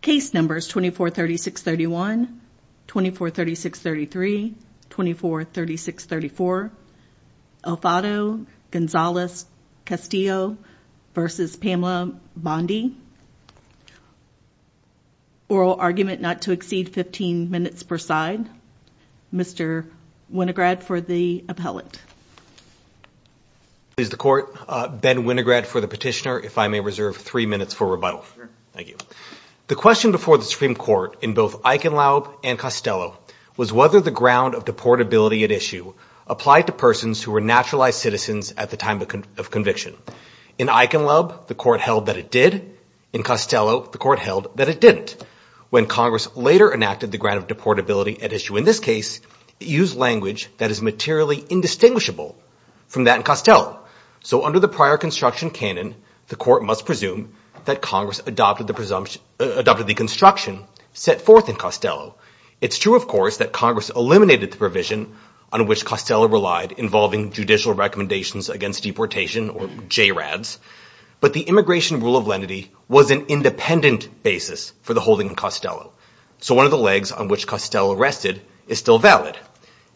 case numbers 24 36 31 24 36 33 24 36 34 Elfido Gonzalez Castillo v. Pamela Bondi oral argument not to exceed 15 minutes per side Mr. Winograd for the appellate please the court uh Ben Winograd for the petitioner if i may reserve three minutes for thank you the question before the supreme court in both eichenlaub and costello was whether the ground of deportability at issue applied to persons who were naturalized citizens at the time of conviction in eichenlaub the court held that it did in costello the court held that it didn't when congress later enacted the grant of deportability at issue in this case it used language that is materially indistinguishable from that in costello so under the prior construction canon the court must presume that congress adopted the presumption adopted the construction set forth in costello it's true of course that congress eliminated the provision on which costello relied involving judicial recommendations against deportation or j-rads but the immigration rule of lenity was an independent basis for the holding in costello so one of the legs on which costello rested is still valid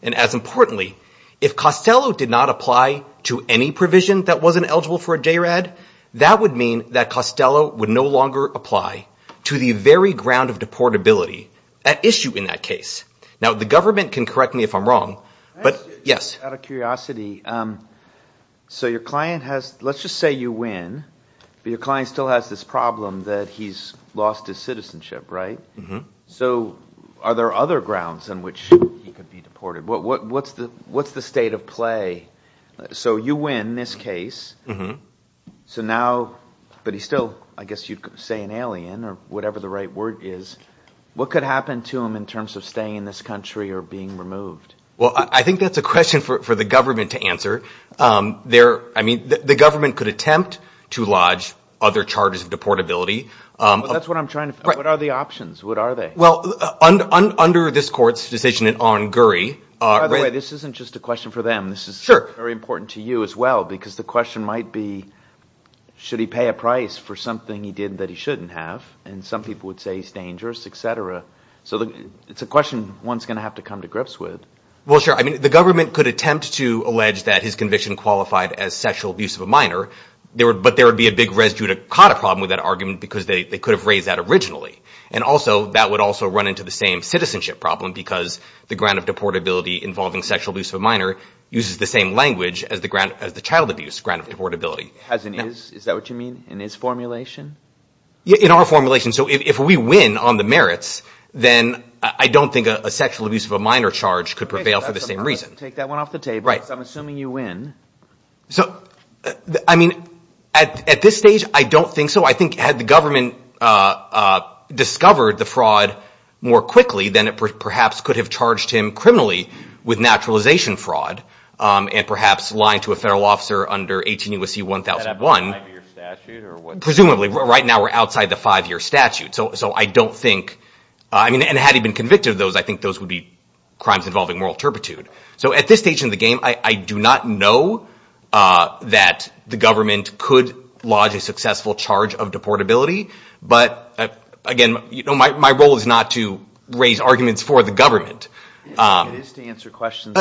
and as importantly if costello did apply to any provision that wasn't eligible for a j-rad that would mean that costello would no longer apply to the very ground of deportability at issue in that case now the government can correct me if i'm wrong but yes out of curiosity um so your client has let's just say you win but your client still has this problem that he's lost his citizenship right so are there other grounds on which he could be deported what what's the what's the state of play so you win this case so now but he's still i guess you'd say an alien or whatever the right word is what could happen to him in terms of staying in this country or being removed well i think that's a question for the government to answer um there i mean the government could attempt to lodge other charges of deportability um that's what i'm trying to what are the options what are they well under this court's decision in on gurry uh right this isn't just a question for them this is sure very important to you as well because the question might be should he pay a price for something he did that he shouldn't have and some people would say he's dangerous etc so the it's a question one's going to have to come to grips with well sure i mean the government could attempt to allege that his conviction qualified as sexual abuse of a minor there would but there would be a big residue to caught a problem with that argument because they could have raised that and also that would also run into the same citizenship problem because the grant of deportability involving sexual abuse of a minor uses the same language as the grant as the child abuse grant of deportability as it is is that what you mean in his formulation in our formulation so if we win on the merits then i don't think a sexual abuse of a minor charge could prevail for the same reason take that one off the table right i'm assuming you win so i mean at at this i don't think so i think had the government uh uh discovered the fraud more quickly than it perhaps could have charged him criminally with naturalization fraud um and perhaps lying to a federal officer under 18 usc 1001 presumably right now we're outside the five-year statute so so i don't think i mean and had he been convicted of those i think those would be crimes involving so at this stage in the game i i do not know uh that the government could lodge a successful charge of deportability but again you know my my role is not to raise arguments for the government it is to answer questions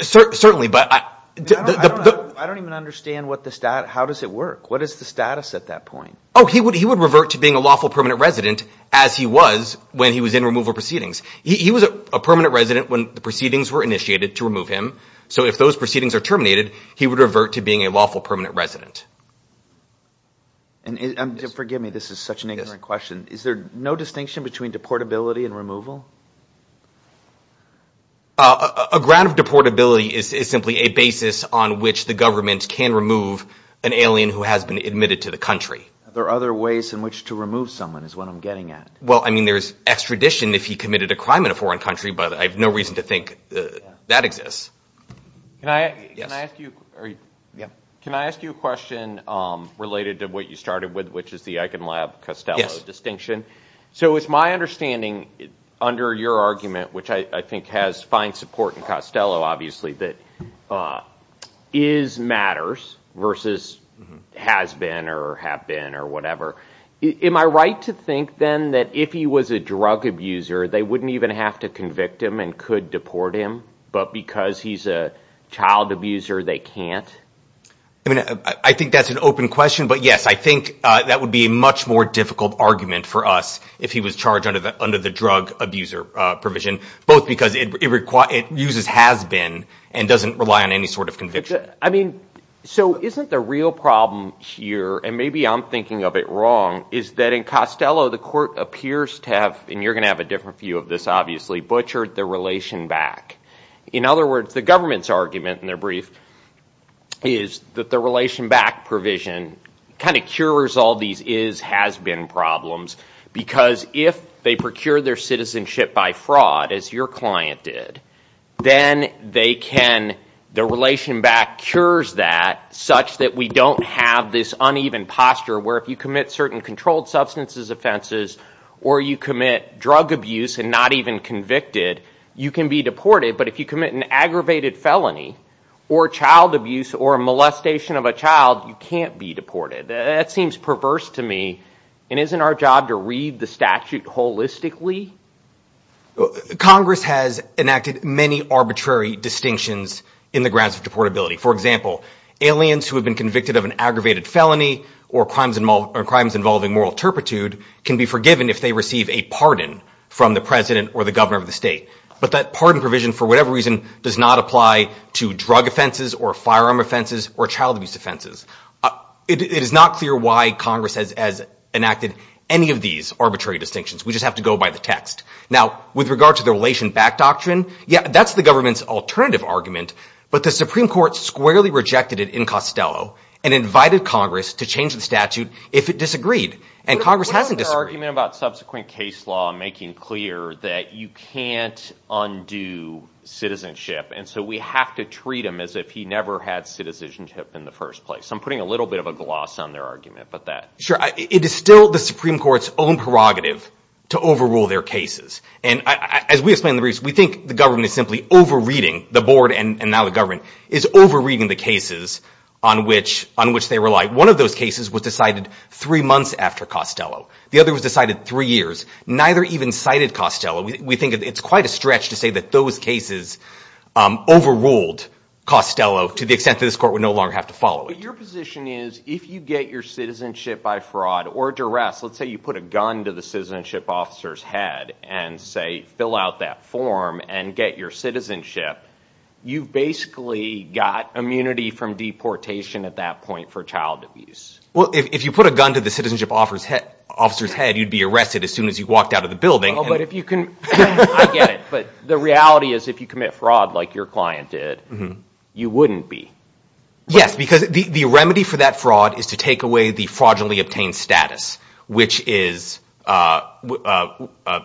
certainly but i i don't even understand what the stat how does it work what is the status at that point oh he would he would revert to being a lawful permanent resident as he was when he was in removal proceedings he was a permanent resident when the proceedings were initiated to remove him so if those proceedings are terminated he would revert to being a lawful permanent resident and forgive me this is such an ignorant question is there no distinction between deportability and removal a ground of deportability is simply a basis on which the government can remove an alien who has been admitted to the country there are other ways in someone is what i'm getting at well i mean there's extradition if he committed a crime in a foreign country but i have no reason to think that exists can i can i ask you are you yeah can i ask you a question um related to what you started with which is the eiken lab costello distinction so it's my understanding under your argument which i i think has fine support in costello obviously that uh is matters versus has been or have been or whatever am i right to think then that if he was a drug abuser they wouldn't even have to convict him and could deport him but because he's a child abuser they can't i mean i think that's an open question but yes i think uh that would be a much more difficult argument for us if he was charged under the under the drug abuser uh provision both because it requires it uses has been and doesn't rely on any sort of conviction i mean so isn't the real problem here and maybe i'm thinking of it wrong is that in costello the court appears to have and you're going to have a different view of this obviously butchered the relation back in other words the government's argument in their brief is that the relation back provision kind of cures all these is has been problems because if they procure their citizenship by fraud as your client did then they can the relation back cures that such that we don't have this uneven posture where if you commit certain controlled substances offenses or you commit drug abuse and not even convicted you can be deported but if you commit an aggravated felony or child abuse or a molestation of a child you can't be deported that seems perverse to me and isn't our job to read the statute holistically congress has enacted many arbitrary distinctions in the grounds of deportability for example aliens who have been convicted of an aggravated felony or crimes and crimes involving moral turpitude can be forgiven if they receive a pardon from the president or the governor of the state but that pardon provision for whatever reason does not apply to drug offenses or firearm offenses or child abuse offenses it is not clear why congress has enacted any of these arbitrary distinctions we just have to go by the text now with regard to the relation back doctrine yeah that's the government's alternative argument but the supreme court squarely rejected it in costello and invited congress to change the statute if it disagreed and congress hasn't disagreed argument about subsequent case law making clear that you can't undo citizenship and so we have to treat him as if he never had citizenship in the first place i'm putting a little bit of a gloss on their argument but that sure it is still the supreme court's own prerogative to overrule their cases and as we explain the reason we think the government is simply over reading the board and now the government is over reading the cases on which on which they rely one of those cases was decided three months after costello the other was decided three years neither even cited costello we think it's quite a stretch to say that those cases um overruled costello to the extent that this court would no longer have to follow it your position is if you get your citizenship by fraud or duress let's say you put a gun to the citizenship officer's head and say fill out that form and get your citizenship you've basically got immunity from deportation at that point for child abuse well if you put a gun to the citizenship offers head officer's head you'd be arrested as soon as you walked out of the building but if you can i get it but the reality is if you commit fraud like your client did you wouldn't be yes because the the remedy for that fraud is to take away the fraudulently obtained status which is uh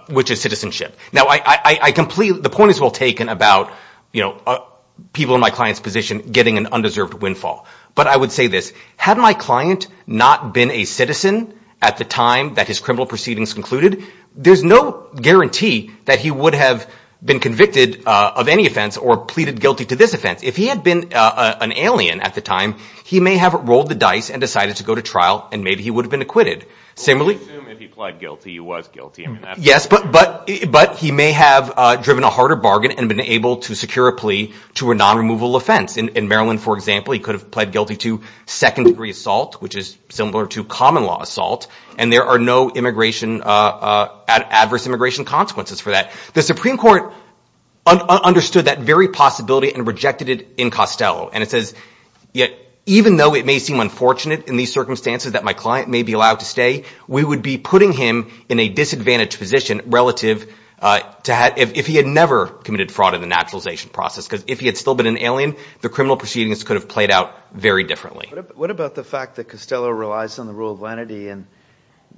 which is citizenship now i i completely the point is well taken about you know people in my client's position getting an undeserved windfall but i would say this had my client not been a citizen at the time that his criminal proceedings concluded there's no guarantee that he would have been convicted uh of any offense or pleaded guilty to this offense if he had been uh an alien at the time he may have rolled the dice and decided to go to trial and maybe he would have been acquitted similarly if he pled guilty he was guilty yes but but but he may have uh driven a harder bargain and been able to secure a plea to a non-removal offense in maryland for example he could have pled guilty to second degree assault which is similar to common law assault and there are no immigration uh uh adverse immigration consequences for that the supreme court understood that very possibility and rejected it in costello and it says yet even though it may seem unfortunate in these circumstances that my client may be allowed to stay we would be putting him in a disadvantaged position relative uh to have if he had never committed fraud in the naturalization process because if he had still been an alien the criminal proceedings could have played out very differently what about the fact that costello relies on the rule of lenity and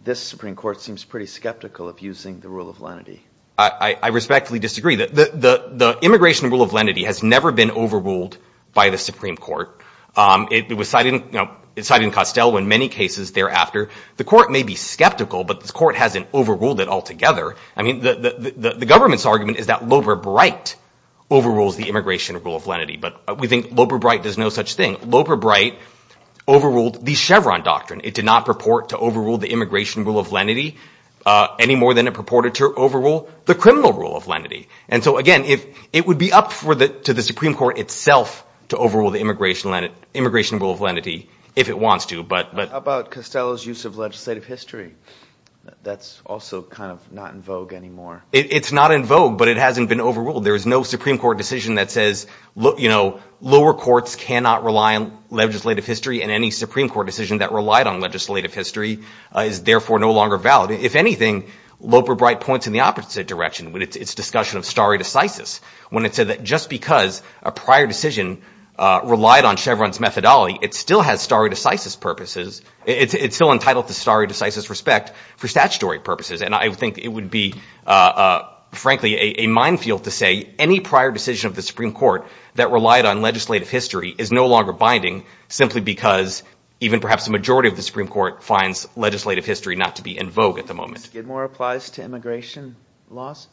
this supreme court seems pretty skeptical of using the rule of lenity i i respectfully disagree that the the the immigration rule of lenity has never been overruled by the supreme court um it was cited you know it's citing costello in many cases thereafter the court may be skeptical but this hasn't overruled it altogether i mean the the government's argument is that lober bright overrules the immigration rule of lenity but we think lober bright does no such thing lober bright overruled the chevron doctrine it did not purport to overrule the immigration rule of lenity uh any more than it purported to overrule the criminal rule of lenity and so again if it would be up for the to the supreme court itself to overrule the immigration immigration rule of legislative history that's also kind of not in vogue anymore it's not in vogue but it hasn't been overruled there is no supreme court decision that says look you know lower courts cannot rely on legislative history and any supreme court decision that relied on legislative history is therefore no longer valid if anything loper bright points in the opposite direction when it's discussion of stare decisis when it said that just because a prior decision uh relied on everyone's methodology it still has stare decisis purposes it's still entitled to stare decisis respect for statutory purposes and i think it would be uh frankly a minefield to say any prior decision of the supreme court that relied on legislative history is no longer binding simply because even perhaps the majority of the supreme court finds legislative history not to be in vogue at the moment skidmore applies to immigration laws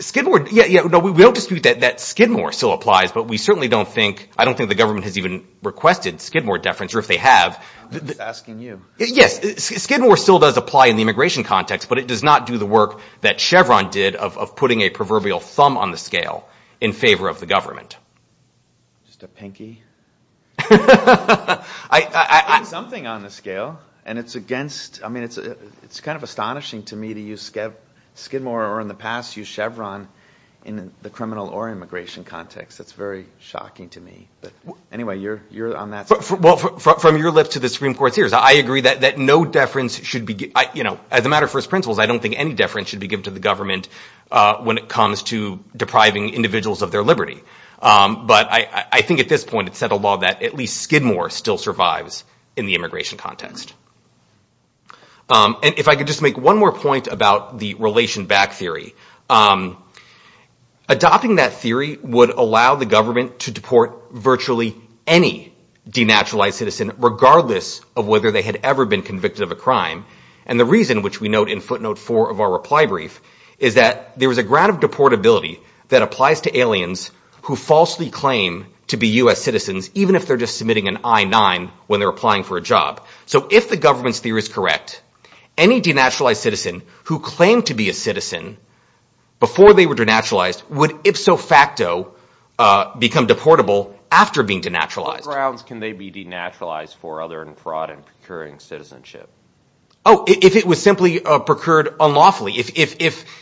skidmore yeah yeah no we will dispute that that skidmore still applies but we certainly don't think i don't think the government has even requested skidmore deference or if they have asking you yes skidmore still does apply in the immigration context but it does not do the work that chevron did of putting a proverbial thumb on the scale in favor of the government just a pinky i i i something on the scale and it's against i mean it's a it's kind of astonishing to me to use skid skidmore or in the past use chevron in the criminal or immigration context it's very shocking to me but anyway you're you're on that well from your lips to the supreme court's ears i agree that that no deference should be you know as a matter of first principles i don't think any deference should be given to the government uh when it comes to depriving individuals of their liberty um but i i think at this point it's said a law that at least skidmore still survives in the immigration context um and if i could just make one more point about the relation back theory um adopting that theory would allow the government to deport virtually any denaturalized citizen regardless of whether they had ever been convicted of a crime and the reason which we note in footnote four of our reply brief is that there is a grant of deportability that applies to aliens who falsely claim to be u.s citizens even if they're just submitting an i-9 when they're applying for a job so if the government's theory is correct any denaturalized citizen who claimed to be a citizen before they were denaturalized would ipso facto uh become deportable after being denaturalized what grounds can they be denaturalized for other than fraud and procuring citizenship oh if it was simply uh procured unlawfully if if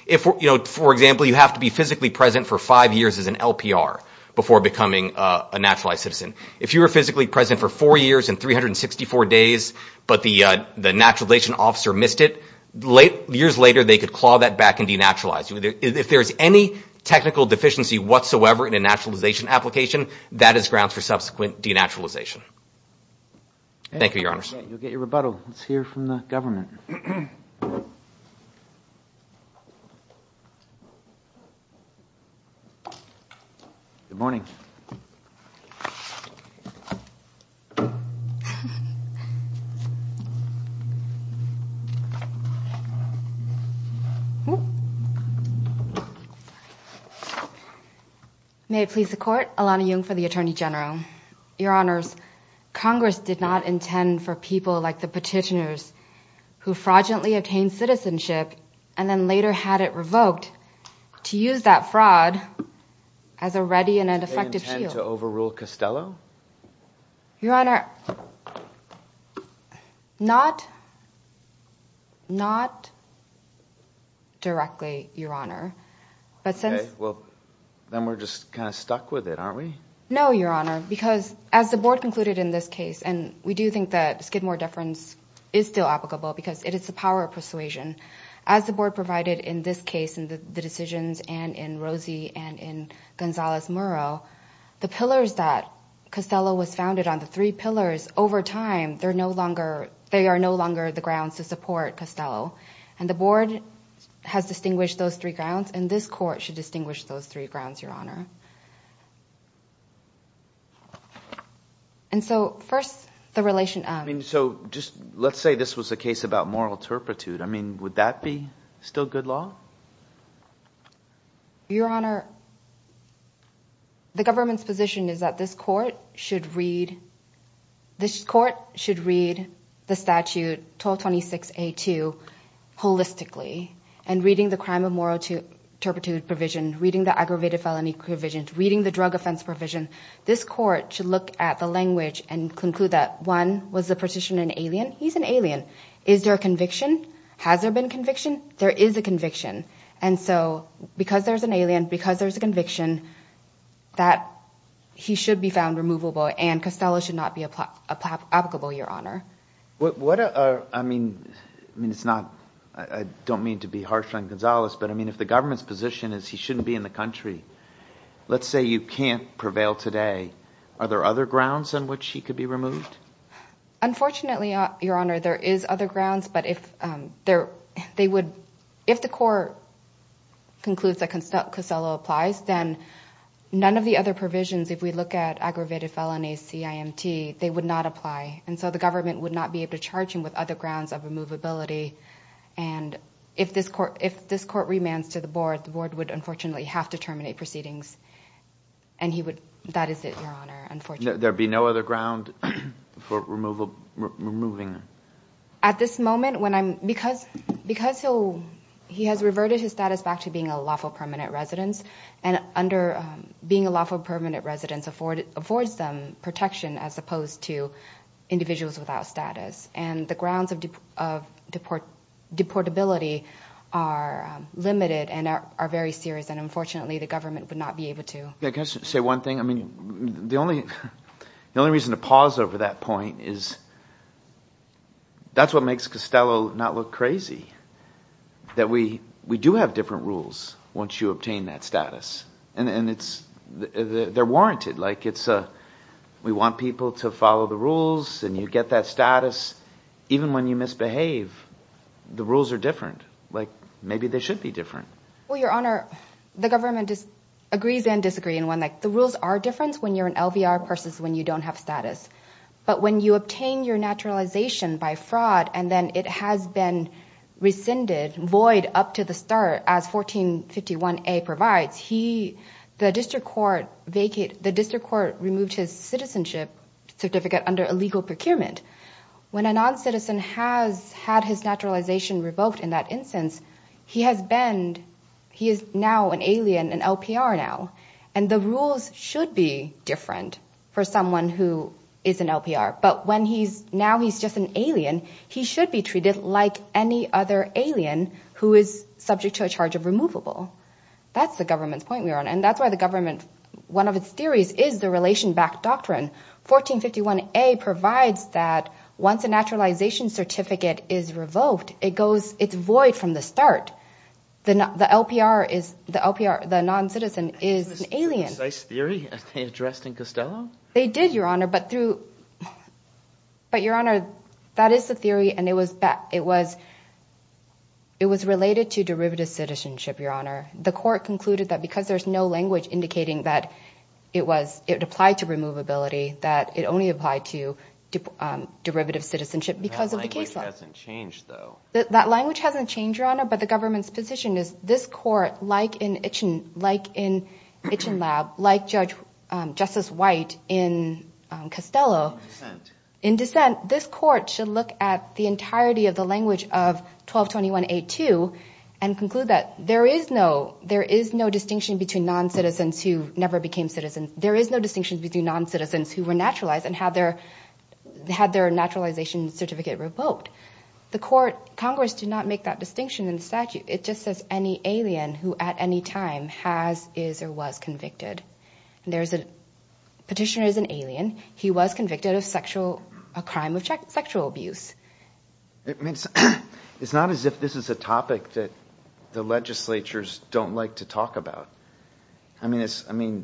if you know for example you have to be physically present for five years as an lpr before becoming a naturalized citizen if you were physically present for four years and 364 days but the uh the naturalization officer missed it late years later they could claw that back and denaturalize if there's any technical deficiency whatsoever in a naturalization application that is grounds for subsequent denaturalization thank you your honor may it please the court alana jung for the attorney general your honors congress did not intend for people like the petitioners who fraudulently obtained citizenship and then later had it revoked to use that fraud as a ready and an effective shield to overrule costello your honor not not directly your honor but since well then we're just kind of stuck with it aren't we no your honor because as the board concluded in this case and we do think that skidmore deference is still applicable because it is the power of persuasion as the board provided in this case in the decisions and in rosie and in gonzalez murrow the pillars that costello was founded on the three pillars over time they're no longer they are no longer the grounds to support costello and the board has distinguished those three grounds and this court should distinguish those three grounds your honor and so first the relation i mean so just let's say this was a case about moral turpitude i mean would that be still good law your honor the government's position is that this court should read this court should read the statute 1226a2 holistically and reading the crime of moral turpitude provision reading the aggravated felony provisions reading the drug offense provision this court should look at the language and conclude that one was the petition an alien he's an alien is there a conviction has there been conviction there is a conviction and so because there's an alien because there's a conviction that he should be found removable and costello should not be applicable your honor what what i mean i mean it's not i don't mean to be harsh on gonzalez but i mean if the government's position is he shouldn't be in the country let's say you can't prevail today are there other grounds on which he could be removed unfortunately your honor there is other grounds but if um there they would if the court concludes that costello applies then none of the other provisions if we look at aggravated felonies cimt they would not apply and so the government would not be able to charge him with other grounds of removability and if this court if this court remands to the board the board would unfortunately have to terminate proceedings and he would that is it your honor unfortunately there be no other ground for removal removing at this moment when i'm because because he'll he has reverted his status back to being a lawful permanent residence and under being a lawful permanent residence afforded affords them protection as opposed to individuals without status and the grounds of deport deportability are limited and are very serious and unfortunately the government would not be able to i guess say one thing i mean the only the only reason to pause over that point is that's what makes costello not look crazy that we we do have different rules once you obtain that status and and it's the the they're warranted like it's a we want people to follow the rules and you get that status even when you misbehave the rules are different like maybe they should be different well your honor the government just agrees and disagree in one like the rules are different when you're an lvr versus when you don't have status but when you obtain your naturalization by fraud and then it has been rescinded void up to the start as 1451a provides he the district court vacate the district court removed his citizenship certificate under illegal procurement when a non-citizen has had his naturalization revoked in that instance he has been he is now an alien an lpr now and the rules should be different for someone who is an lpr but when he's now he's just an alien he should be treated like any other alien who is subject to a charge of removable that's the government's point we're on and that's why the government one of its theories is the relation back doctrine 1451a provides that once a naturalization certificate is revoked it goes it's void from the start then the lpr is the lpr the non-citizen is an alien theory addressed in costello they did your honor but through but your honor that is the theory and it was back it was it was related to derivative citizenship the court concluded that because there's no language indicating that it was it applied to removability that it only applied to derivative citizenship because of the case that language hasn't changed your honor but the government's position is this court like in itchin like in itchin lab like judge justice white in costello in dissent this court should look at the entirety of language of 1221a2 and conclude that there is no there is no distinction between non-citizens who never became citizens there is no distinction between non-citizens who were naturalized and had their had their naturalization certificate revoked the court congress did not make that distinction in statute it just says any alien who at any time has is or was convicted there's a petitioner is an alien he was convicted of sexual a crime of sexual abuse it means it's not as if this is a topic that the legislatures don't like to talk about i mean it's i mean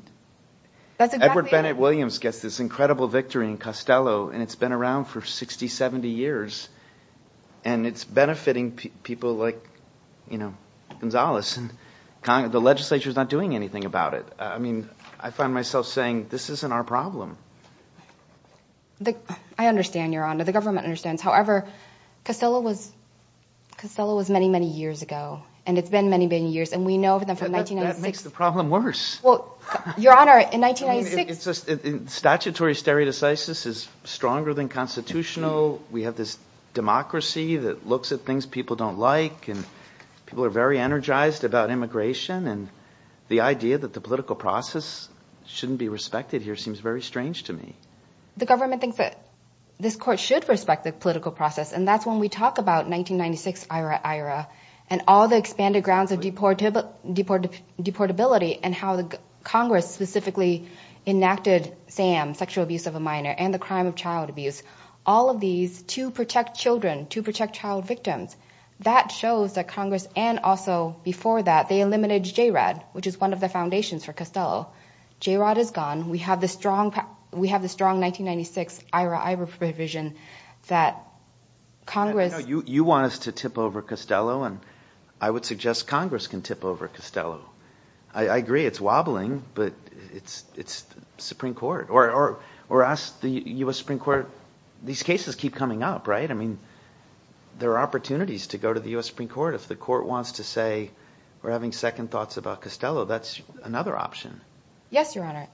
that's edward bennett williams gets this incredible victory in costello and it's been around for 60 70 years and it's benefiting people like you know gonzalez and the legislature is not doing anything about it i mean i find myself saying this isn't our problem the i understand your honor the government understands however costello was costello was many many years ago and it's been many many years and we know that that makes the problem worse well your honor in 1996 it's just in statutory stereo decisive is stronger than constitutional we have this democracy that looks at things people don't like and people are very energized about immigration and the idea that the political process shouldn't be respected here seems very strange to me the government thinks this court should respect the political process and that's when we talk about 1996 ira ira and all the expanded grounds of deportable deport deportability and how the congress specifically enacted sam sexual abuse of a minor and the crime of child abuse all of these to protect children to protect child victims that shows that congress and also before that they eliminated jayrod which is one of the foundations for costello jayrod is gone we have the strong we have the strong 1996 ira ira provision that congress you you want us to tip over costello and i would suggest congress can tip over costello i i agree it's wobbling but it's it's supreme court or or or us the u.s supreme court these cases keep coming up right i mean there are opportunities to go to the u.s supreme court if the court wants to say we're having second thoughts about costello that's another option yes your honor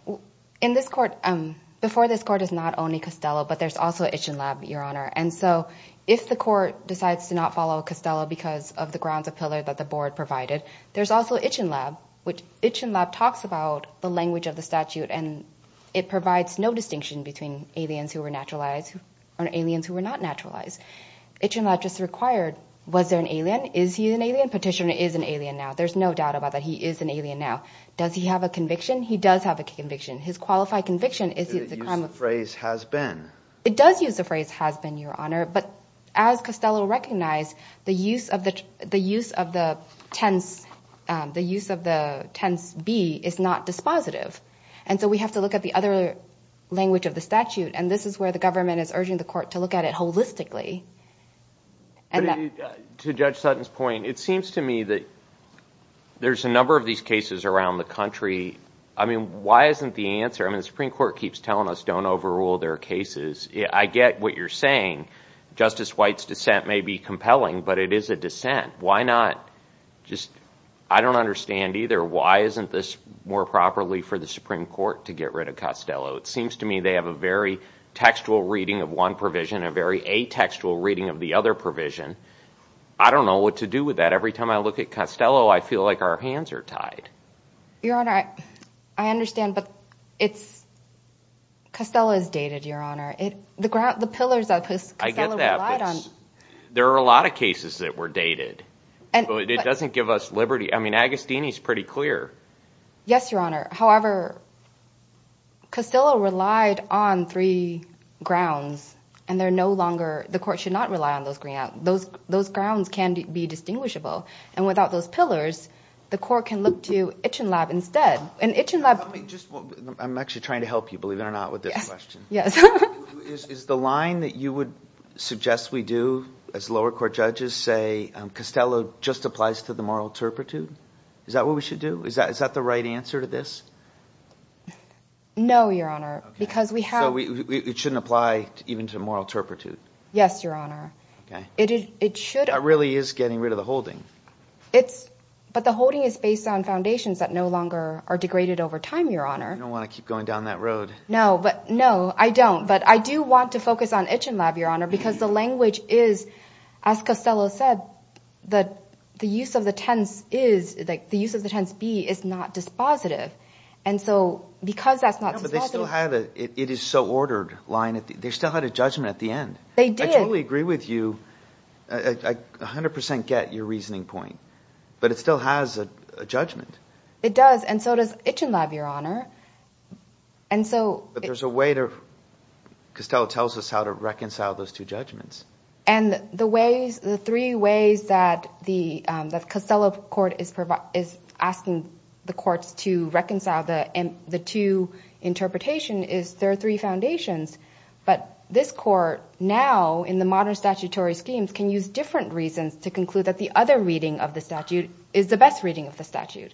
in this court um before this court is not only costello but there's also itchin lab your honor and so if the court decides to not follow costello because of the grounds of pillar that the board provided there's also itchin lab which itchin lab talks about the language of the statute and it provides no distinction between aliens who were naturalized or aliens who were not naturalized itchin lab just required was there an alien is he petitioner is an alien now there's no doubt about that he is an alien now does he have a conviction he does have a conviction his qualified conviction is the phrase has been it does use the phrase has been your honor but as costello recognized the use of the the use of the tense um the use of the tense b is not dispositive and so we have to look at the other language of the statute and this is where the government is urging the court to look at it holistically and to judge sutton's point it's seems to me that there's a number of these cases around the country i mean why isn't the answer i mean the supreme court keeps telling us don't overrule their cases i get what you're saying justice white's dissent may be compelling but it is a dissent why not just i don't understand either why isn't this more properly for the supreme court to get rid of costello it seems to me they have a very textual reading of one provision a very atextual reading of the other provision i don't know what to do with that every time i look at costello i feel like our hands are tied your honor i understand but it's costello is dated your honor it the ground the pillars of his there are a lot of cases that were dated and it doesn't give us liberty i mean agustini's pretty clear yes your honor however costello relied on three grounds and they're no longer the court should not rely on those grant those those grounds can be distinguishable and without those pillars the court can look to itchin lab instead and itchin lab just i'm actually trying to help you believe it or not with this question yes is the line that you would suggest we do as lower court judges say um costello just applies to the moral turpitude is that what we should do is that is that the right answer to this no your honor because we have we it shouldn't apply even to yes your honor okay it it should really is getting rid of the holding it's but the holding is based on foundations that no longer are degraded over time your honor you don't want to keep going down that road no but no i don't but i do want to focus on itchin lab your honor because the language is as costello said that the use of the tense is like the use of the tense b is not dispositive and so because that's not but they still had it it is so ordered line they still had a judgment at the end they did i totally agree with you i a hundred percent get your reasoning point but it still has a judgment it does and so does itchin lab your honor and so but there's a way to costello tells us how to reconcile those two judgments and the ways the three ways that the um that costello court is providing is asking the courts to reconcile the the two interpretation is there are three foundations but this court now in the modern statutory schemes can use different reasons to conclude that the other reading of the statute is the best reading of the statute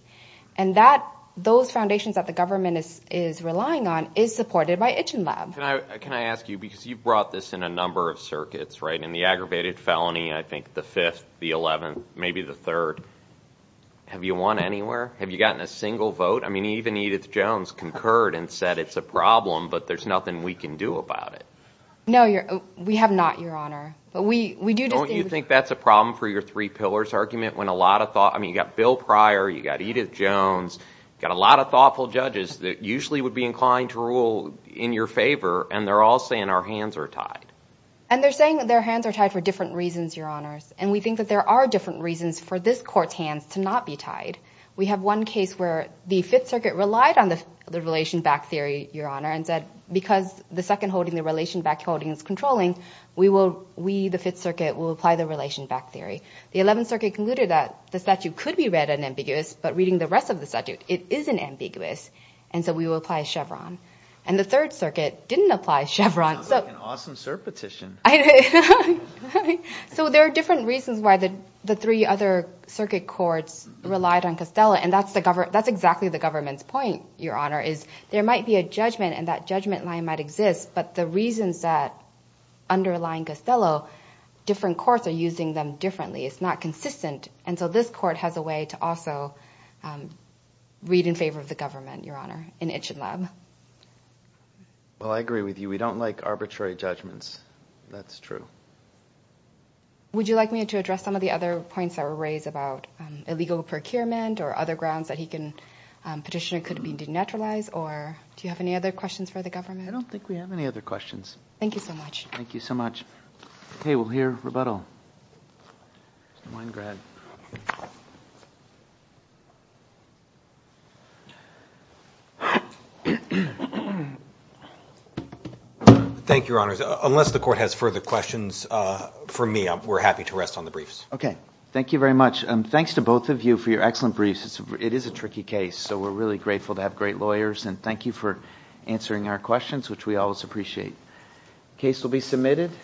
and that those foundations that the government is is relying on is supported by itchin lab can i can i ask you because you've brought this in a number of circuits right in the aggravated felony i think the fifth the 11th maybe the third have you won anywhere have you gotten a single vote i mean even edith jones concurred and said it's a problem but there's nothing we can do about it no you're we have not your honor but we we do don't you think that's a problem for your three pillars argument when a lot of thought i mean you got bill prior you got edith jones got a lot of thoughtful judges that usually would be inclined to rule in your favor and they're all saying our hands are tied and they're saying that their hands are tied for different reasons your honors and we think that there are different reasons for this court's hands to not be tied we have one case where the fifth circuit relied on the relation back theory your honor and said because the second holding the relation back holding is controlling we will we the fifth circuit will apply the relation back theory the 11th circuit concluded that the statute could be read and ambiguous but reading the rest of the statute it isn't ambiguous and so we will apply chevron and the third circuit didn't apply chevron so an awesome circuit courts relied on castello and that's the government that's exactly the government's point your honor is there might be a judgment and that judgment line might exist but the reasons that underlying castello different courts are using them differently it's not consistent and so this court has a way to also read in favor of the government your honor in itchin lab well i agree with you we don't like arbitrary judgments that's true would you like me to address some of the other points that were raised about illegal procurement or other grounds that he can petitioner could be denaturalized or do you have any other questions for the government i don't think we have any other questions thank you so much thank you so much okay we'll hear rebuttal mine grad thank you your honors unless the court has further questions uh for me we're happy to rest on the briefs okay thank you very much and thanks to both of you for your excellent briefs it is a tricky case so we're really grateful to have great lawyers and thank you for answering our questions which we always appreciate case will be submitted